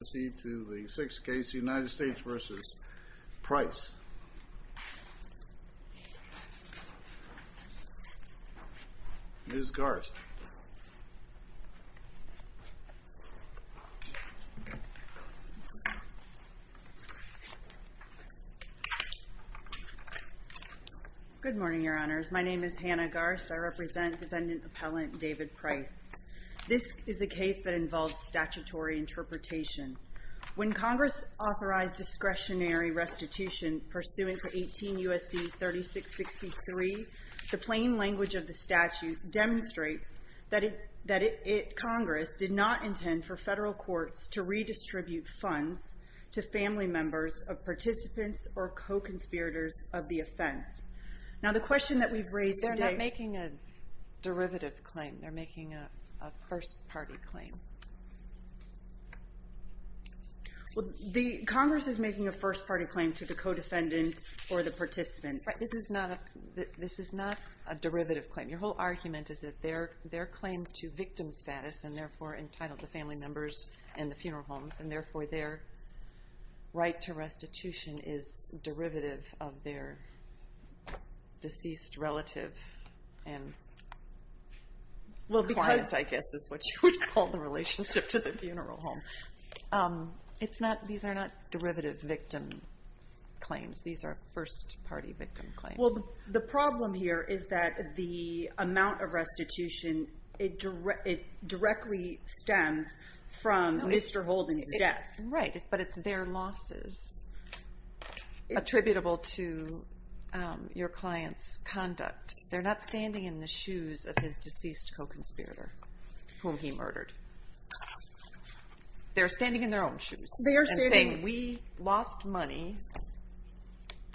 We will now proceed to the sixth case, United States v. Price. Ms. Garst. Good morning, Your Honors. My name is Hannah Garst. I represent defendant appellant David Price. This is a case that involves statutory interpretation. When Congress authorized discretionary restitution pursuant to 18 U.S.C. 3663, the plain language of the statute demonstrates that Congress did not intend for federal courts to redistribute funds to family members of participants or co-conspirators of the offense. Now, the question that we've raised today — They're not making a derivative claim. They're making a first-party claim. Congress is making a first-party claim to the co-defendant or the participant. This is not a derivative claim. Your whole argument is that their claim to victim status, and therefore entitled to family members and the funeral homes, and therefore their right to restitution is derivative of their deceased relative and client, I guess is what you would call the relationship to the funeral home. These are not derivative victim claims. These are first-party victim claims. Well, the problem here is that the amount of restitution, it directly stems from Mr. Holden's death. Right, but it's their losses attributable to your client's conduct. They're not standing in the shoes of his deceased co-conspirator whom he murdered. They're standing in their own shoes and saying, We lost money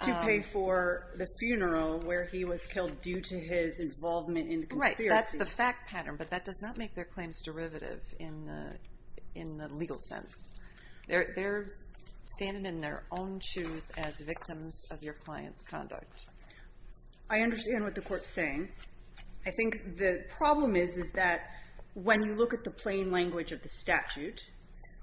to pay for the funeral where he was killed due to his involvement in the conspiracy. That's the fact pattern, but that does not make their claims derivative in the legal sense. They're standing in their own shoes as victims of your client's conduct. I understand what the Court's saying. I think the problem is, is that when you look at the plain language of the statute,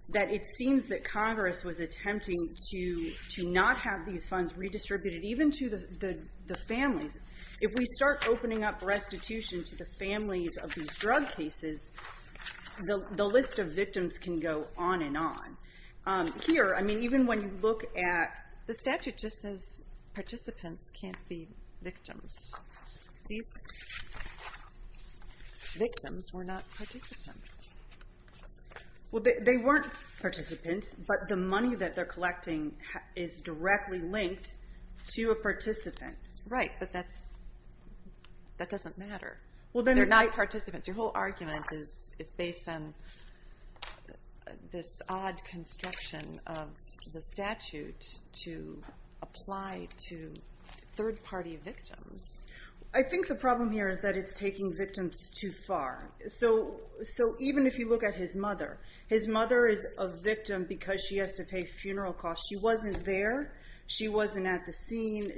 that it seems that Congress was attempting to not have these funds redistributed even to the families. If we start opening up restitution to the families of these drug cases, the list of victims can go on and on. Here, I mean, even when you look at the statute, it just says participants can't be victims. These victims were not participants. Well, they weren't participants, but the money that they're collecting is directly linked to a participant. Right, but that doesn't matter. They're not participants. Your whole argument is based on this odd construction of the statute to apply to third-party victims. I think the problem here is that it's taking victims too far. Even if you look at his mother, his mother is a victim because she has to pay funeral costs. She wasn't there. She wasn't at the scene.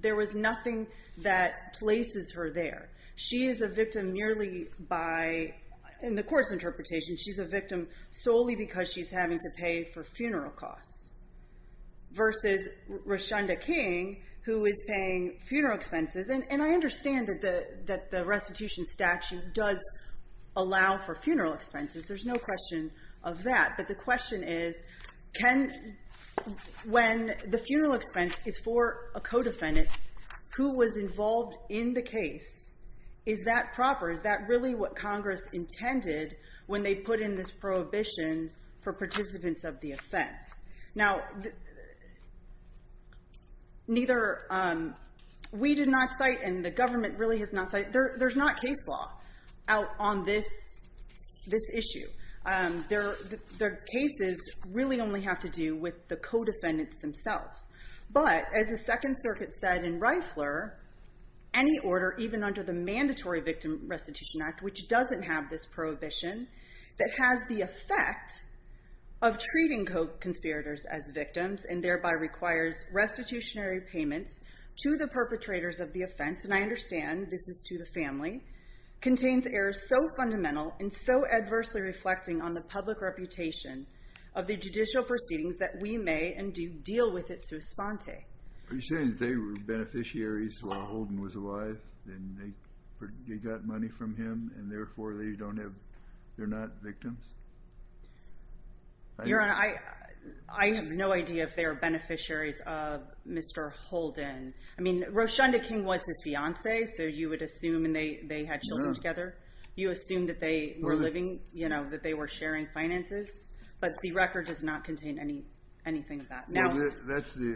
There was nothing that places her there. She is a victim merely by, in the Court's interpretation, she's a victim solely because she's having to pay for funeral costs versus Roshunda King, who is paying funeral expenses. And I understand that the restitution statute does allow for funeral expenses. There's no question of that. But the question is, when the funeral expense is for a co-defendant, who was involved in the case, is that proper? Is that really what Congress intended when they put in this prohibition for participants of the offense? Now, neither we did not cite and the government really has not cited, there's not case law out on this issue. The cases really only have to do with the co-defendants themselves. But, as the Second Circuit said in Reifler, any order, even under the Mandatory Victim Restitution Act, which doesn't have this prohibition, that has the effect of treating conspirators as victims and thereby requires restitutionary payments to the perpetrators of the offense, and I understand this is to the family, contains errors so fundamental and so adversely reflecting on the public reputation of the judicial proceedings that we may and do deal with it suspente. Are you saying that they were beneficiaries while Holden was alive and they got money from him and therefore they're not victims? Your Honor, I have no idea if they were beneficiaries of Mr. Holden. I mean, Roshunda King was his fiancée, so you would assume they had children together. You assume that they were sharing finances, but the record does not contain anything of that. At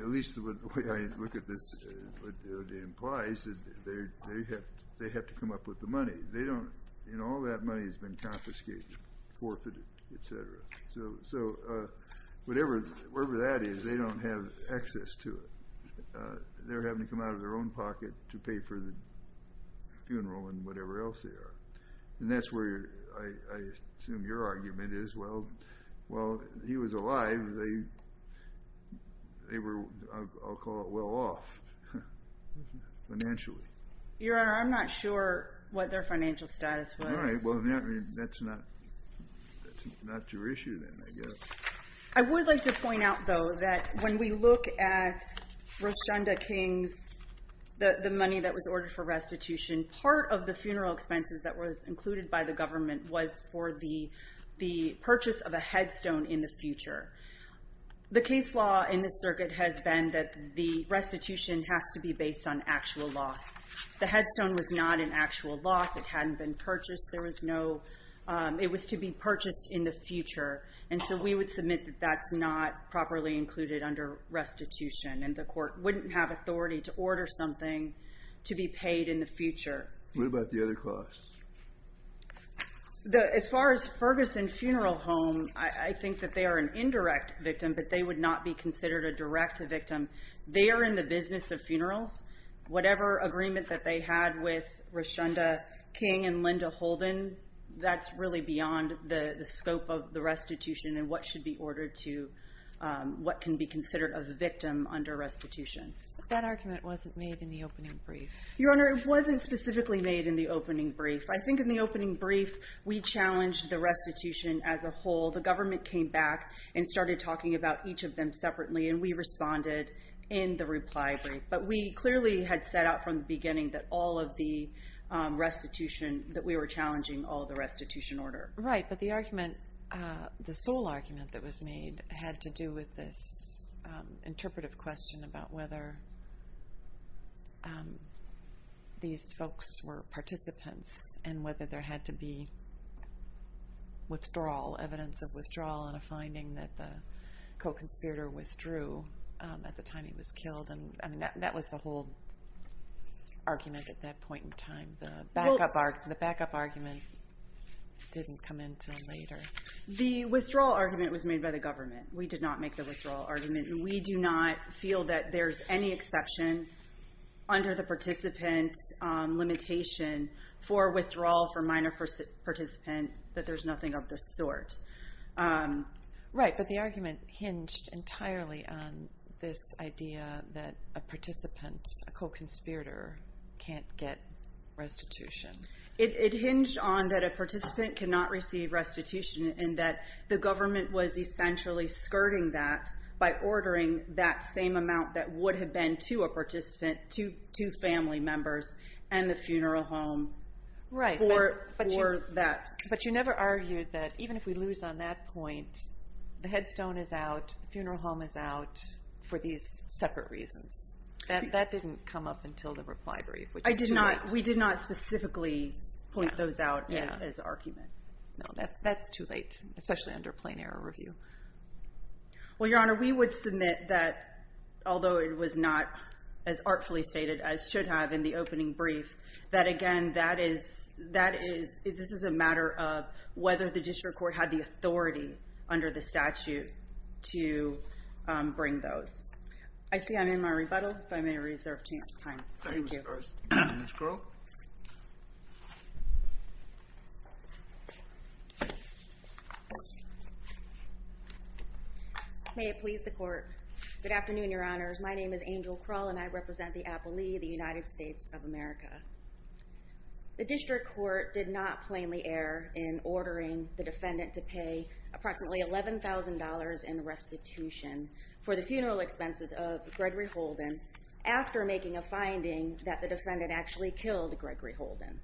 least the way I look at this, what it implies is they have to come up with the money. All that money has been confiscated, forfeited, et cetera. So wherever that is, they don't have access to it. They're having to come out of their own pocket to pay for the funeral and whatever else they are. And that's where I assume your argument is, well, while he was alive, they were, I'll call it, well off financially. Your Honor, I'm not sure what their financial status was. All right, well, that's not your issue then, I guess. I would like to point out, though, that when we look at Roshunda King's, the money that was ordered for restitution, part of the funeral expenses that was included by the government was for the purchase of a headstone in the future. The case law in this circuit has been that the restitution has to be based on actual loss. The headstone was not an actual loss. It hadn't been purchased. There was no – it was to be purchased in the future. And so we would submit that that's not properly included under restitution and the court wouldn't have authority to order something to be paid in the future. What about the other costs? As far as Ferguson Funeral Home, I think that they are an indirect victim, but they would not be considered a direct victim. They are in the business of funerals. Whatever agreement that they had with Roshunda King and Linda Holden, that's really beyond the scope of the restitution and what should be ordered to what can be considered a victim under restitution. That argument wasn't made in the opening brief. Your Honor, it wasn't specifically made in the opening brief. I think in the opening brief we challenged the restitution as a whole. The government came back and started talking about each of them separately, and we responded in the reply brief. But we clearly had set out from the beginning that all of the restitution, that we were challenging all of the restitution order. Right, but the argument, the sole argument that was made, had to do with this interpretive question about whether these folks were participants and whether there had to be withdrawal, evidence of withdrawal, and a finding that the co-conspirator withdrew at the time he was killed. That was the whole argument at that point in time. The backup argument didn't come until later. The withdrawal argument was made by the government. We did not make the withdrawal argument, and we do not feel that there's any exception under the participant limitation for withdrawal for minor participant, that there's nothing of the sort. Right, but the argument hinged entirely on this idea that a participant, a co-conspirator, can't get restitution. It hinged on that a participant cannot receive restitution and that the government was essentially skirting that by ordering that same amount that would have been to a participant, to family members, and the funeral home for that. Right, but you never argued that even if we lose on that point, the headstone is out, the funeral home is out, for these separate reasons. That didn't come up until the reply brief, which is too late. We did not specifically point those out as argument. No, that's too late, especially under plain error review. Well, Your Honor, we would submit that, although it was not as artfully stated as should have in the opening brief, that, again, this is a matter of whether the district court had the authority under the statute to bring those. I see I'm in my rebuttal, but I may reserve a chance of time. Thank you. Ms. Krull. May it please the court. Good afternoon, Your Honors. My name is Angel Krull, and I represent the Appalachee, the United States of America. The district court did not plainly err in ordering the defendant to pay approximately $11,000 in restitution for the funeral expenses of Gregory Holden after making a finding that the defendant actually killed Gregory Holden.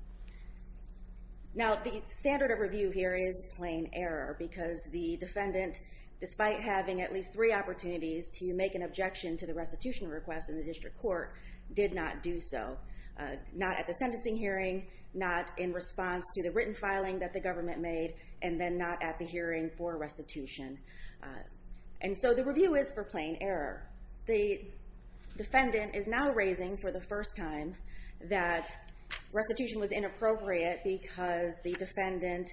Now, the standard of review here is plain error, because the defendant, despite having at least three opportunities to make an objection to the restitution request in the district court, did not do so, not at the sentencing hearing, not in response to the written filing that the government made, and then not at the hearing for restitution. And so the review is for plain error. The defendant is now raising for the first time that restitution was inappropriate because the defendant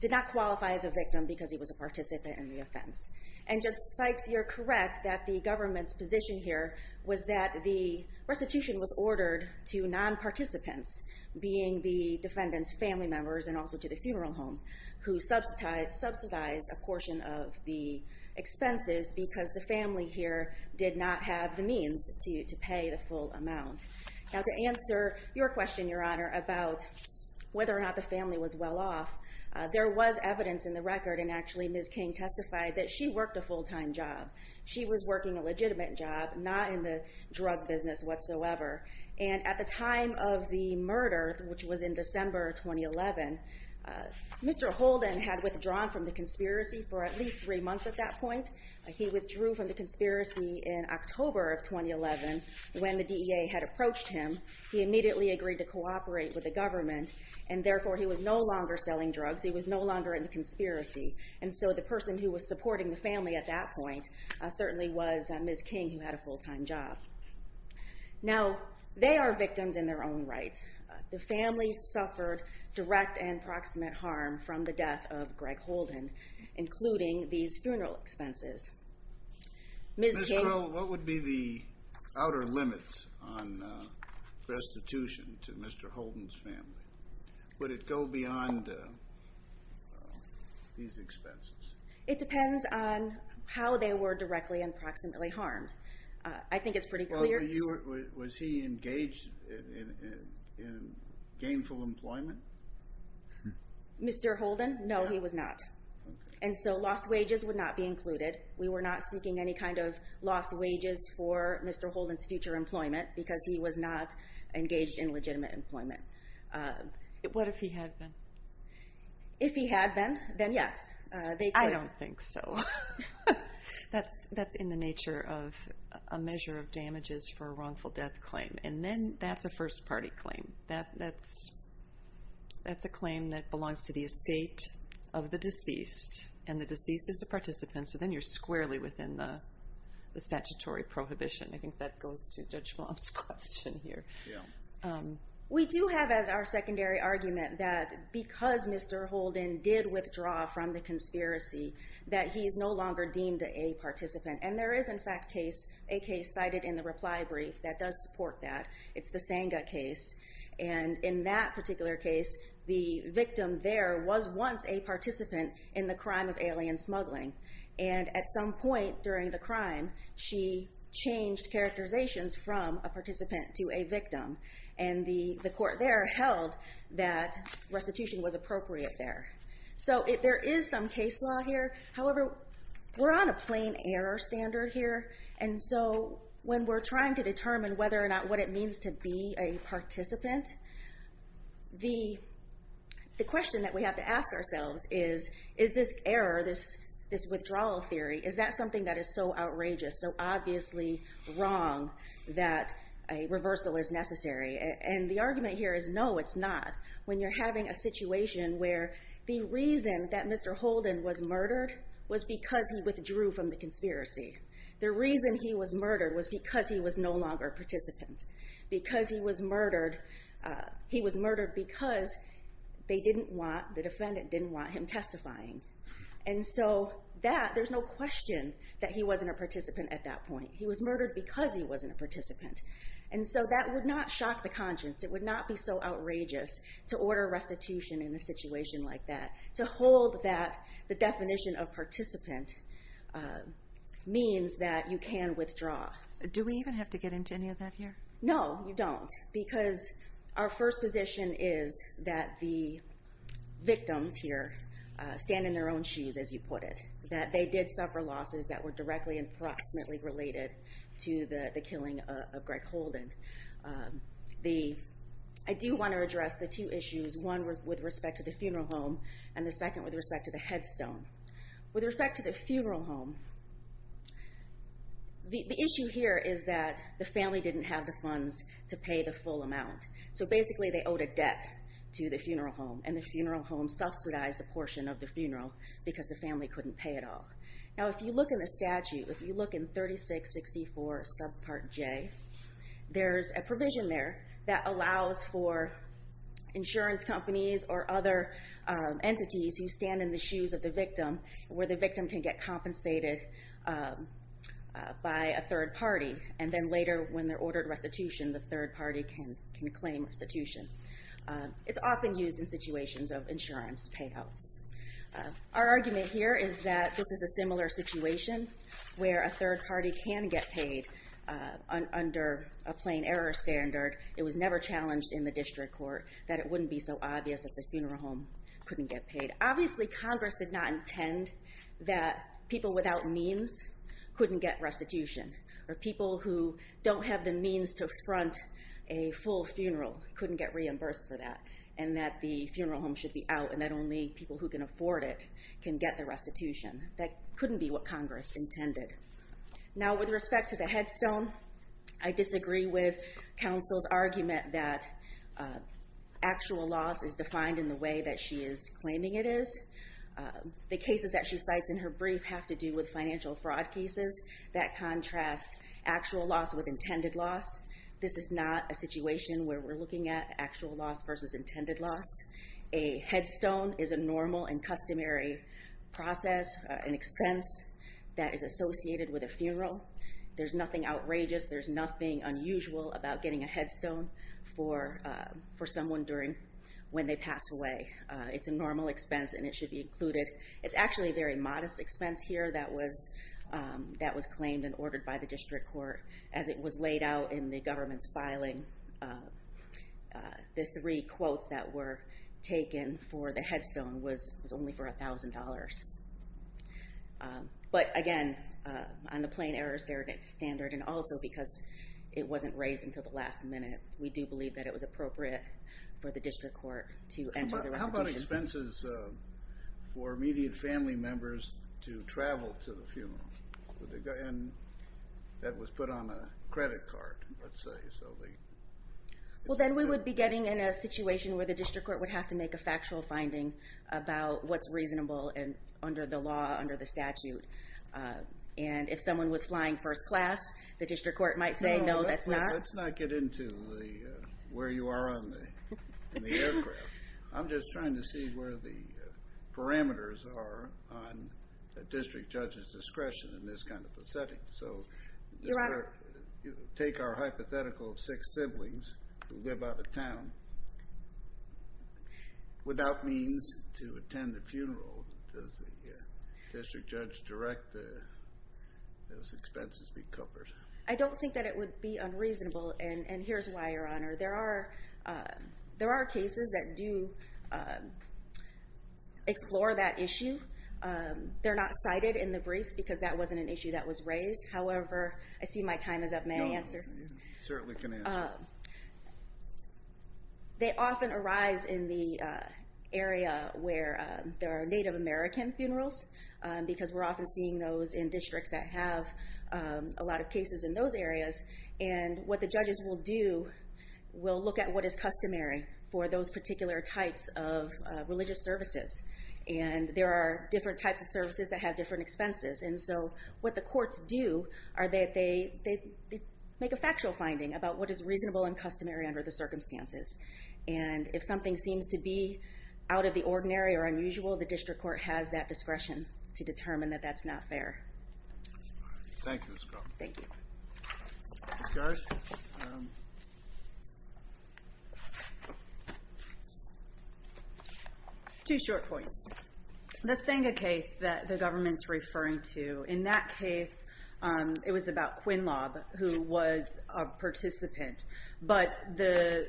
did not qualify as a victim because he was a participant in the offense. And Judge Spikes, you're correct that the government's position here was that the restitution was ordered to non-participants, being the defendant's family members and also to the funeral home, who subsidized a portion of the expenses because the family here did not have the means to pay the full amount. Now, to answer your question, Your Honor, about whether or not the family was well off, there was evidence in the record, and actually Ms. King testified, that she worked a full-time job. She was working a legitimate job, not in the drug business whatsoever. And at the time of the murder, which was in December 2011, Mr. Holden had withdrawn from the conspiracy for at least three months at that point. He withdrew from the conspiracy in October of 2011 when the DEA had approached him. He immediately agreed to cooperate with the government, and therefore he was no longer selling drugs. He was no longer in the conspiracy. And so the person who was supporting the family at that point certainly was Ms. King, who had a full-time job. Now, they are victims in their own right. The family suffered direct and proximate harm from the death of Greg Holden, including these funeral expenses. Ms. King... Ms. Krull, what would be the outer limits on restitution to Mr. Holden's family? Would it go beyond these expenses? It depends on how they were directly and proximately harmed. I think it's pretty clear... Was he engaged in gainful employment? Mr. Holden? No, he was not. And so lost wages would not be included. We were not seeking any kind of lost wages for Mr. Holden's future employment because he was not engaged in legitimate employment. What if he had been? If he had been, then yes. I don't think so. That's in the nature of a measure of damages for a wrongful death claim. And then that's a first-party claim. That's a claim that belongs to the estate of the deceased, and the deceased is a participant, so then you're squarely within the statutory prohibition. I think that goes to Judge Blum's question here. We do have as our secondary argument that because Mr. Holden did withdraw from the conspiracy that he is no longer deemed a participant. And there is, in fact, a case cited in the reply brief that does support that. It's the Senga case. And in that particular case, the victim there was once a participant in the crime of alien smuggling. And at some point during the crime, she changed characterizations from a participant to a victim, and the court there held that restitution was appropriate there. So there is some case law here. However, we're on a plain error standard here. And so when we're trying to determine whether or not what it means to be a participant, the question that we have to ask ourselves is, is this error, this withdrawal theory, is that something that is so outrageous, so obviously wrong, that a reversal is necessary? And the argument here is no, it's not. When you're having a situation where the reason that Mr. Holden was murdered was because he withdrew from the conspiracy. The reason he was murdered was because he was no longer a participant. Because he was murdered, he was murdered because they didn't want, the defendant didn't want him testifying. And so that, there's no question that he wasn't a participant at that point. He was murdered because he wasn't a participant. And so that would not shock the conscience. It would not be so outrageous to order restitution in a situation like that. To hold that the definition of participant means that you can withdraw. Do we even have to get into any of that here? No, you don't. Because our first position is that the victims here stand in their own shoes, as you put it. That they did suffer losses that were directly and approximately related to the killing of Greg Holden. I do want to address the two issues, one with respect to the funeral home, and the second with respect to the headstone. With respect to the funeral home, the issue here is that the family didn't have the funds to pay the full amount. So basically they owed a debt to the funeral home. And the funeral home subsidized a portion of the funeral because the family couldn't pay it all. Now if you look in the statute, if you look in 3664 subpart J, there's a provision there that allows for insurance companies or other entities who stand in the shoes of the victim where the victim can get compensated by a third party. And then later when they're ordered restitution, the third party can claim restitution. It's often used in situations of insurance payouts. Our argument here is that this is a similar situation where a third party can get paid under a plain error standard. It was never challenged in the district court that it wouldn't be so obvious that the funeral home couldn't get paid. Obviously Congress did not intend that people without means couldn't get restitution, or people who don't have the means to front a full funeral couldn't get reimbursed for that, and that the funeral home should be out and that only people who can afford it can get the restitution. That couldn't be what Congress intended. Now with respect to the headstone, I disagree with counsel's argument that actual loss is defined in the way that she is claiming it is. The cases that she cites in her brief have to do with financial fraud cases. That contrasts actual loss with intended loss. This is not a situation where we're looking at actual loss versus intended loss. A headstone is a normal and customary process, an expense that is associated with a funeral. There's nothing outrageous, there's nothing unusual about getting a headstone for someone when they pass away. It's a normal expense and it should be included. It's actually a very modest expense here that was claimed and ordered by the district court as it was laid out in the government's filing. The three quotes that were taken for the headstone was only for $1,000. But again, on the plain errors standard and also because it wasn't raised until the last minute, we do believe that it was appropriate for the district court to enter the restitution. How about expenses for immediate family members to travel to the funeral? That was put on a credit card, let's say, Well, then we would be getting in a situation where the district court would have to make a factual finding about what's reasonable under the law, under the statute. And if someone was flying first class, the district court might say, no, that's not. Let's not get into where you are on the aircraft. I'm just trying to see where the parameters are on a district judge's discretion in this kind of a setting. So take our hypothetical of six siblings who live out of town without means to attend the funeral. Does the district judge direct those expenses be covered? I don't think that it would be unreasonable, and here's why, Your Honor. There are cases that do explore that issue. They're not cited in the briefs because that wasn't an issue that was raised. However, I see my time is up, may I answer? No, you certainly can answer. They often arise in the area where there are Native American funerals because we're often seeing those in districts that have a lot of cases in those areas. And what the judges will do, we'll look at what is customary for those particular types of religious services. And there are different types of services that have different expenses, and so what the courts do are that they make a factual finding about what is reasonable and customary under the circumstances. And if something seems to be out of the ordinary or unusual, the district court has that discretion to determine that that's not fair. Thank you, Ms. Croft. Thank you. Ms. Garz? Two short points. The Senga case that the government's referring to, in that case it was about Quinlob, who was a participant. But the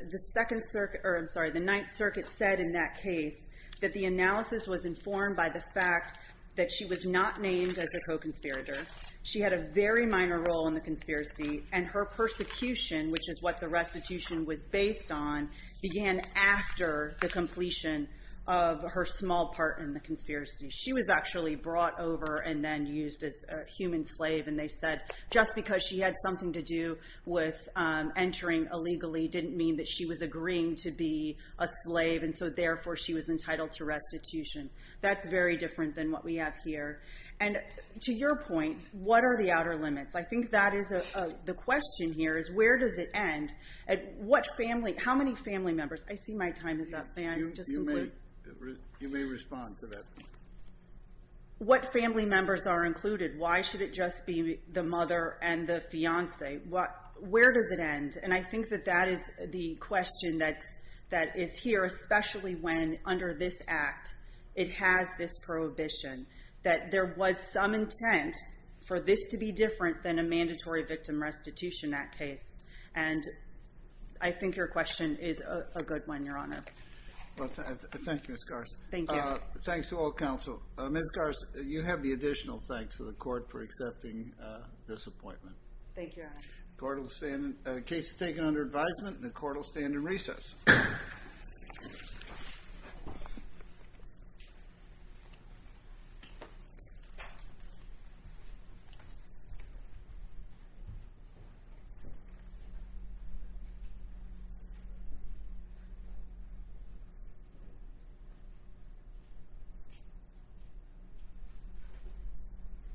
Ninth Circuit said in that case that the analysis was informed by the fact that she was not named as a co-conspirator, she had a very minor role in the conspiracy, and her persecution, which is what the restitution was based on, began after the completion of her small part in the conspiracy. She was actually brought over and then used as a human slave, and they said just because she had something to do with entering illegally didn't mean that she was agreeing to be a slave, and so therefore she was entitled to restitution. That's very different than what we have here. And to your point, what are the outer limits? I think the question here is where does it end? How many family members? I see my time is up. You may respond to that. What family members are included? Why should it just be the mother and the fiancé? Where does it end? And I think that that is the question that is here, especially when, under this Act, it has this prohibition that there was some intent for this to be different than a mandatory victim restitution Act case. And I think your question is a good one, Your Honor. Thank you, Ms. Garce. Thanks to all counsel. Ms. Garce, you have the additional thanks to the court for accepting this appointment. Thank you, Your Honor. The case is taken under advisement, and the court will stand in recess. Thank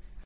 you.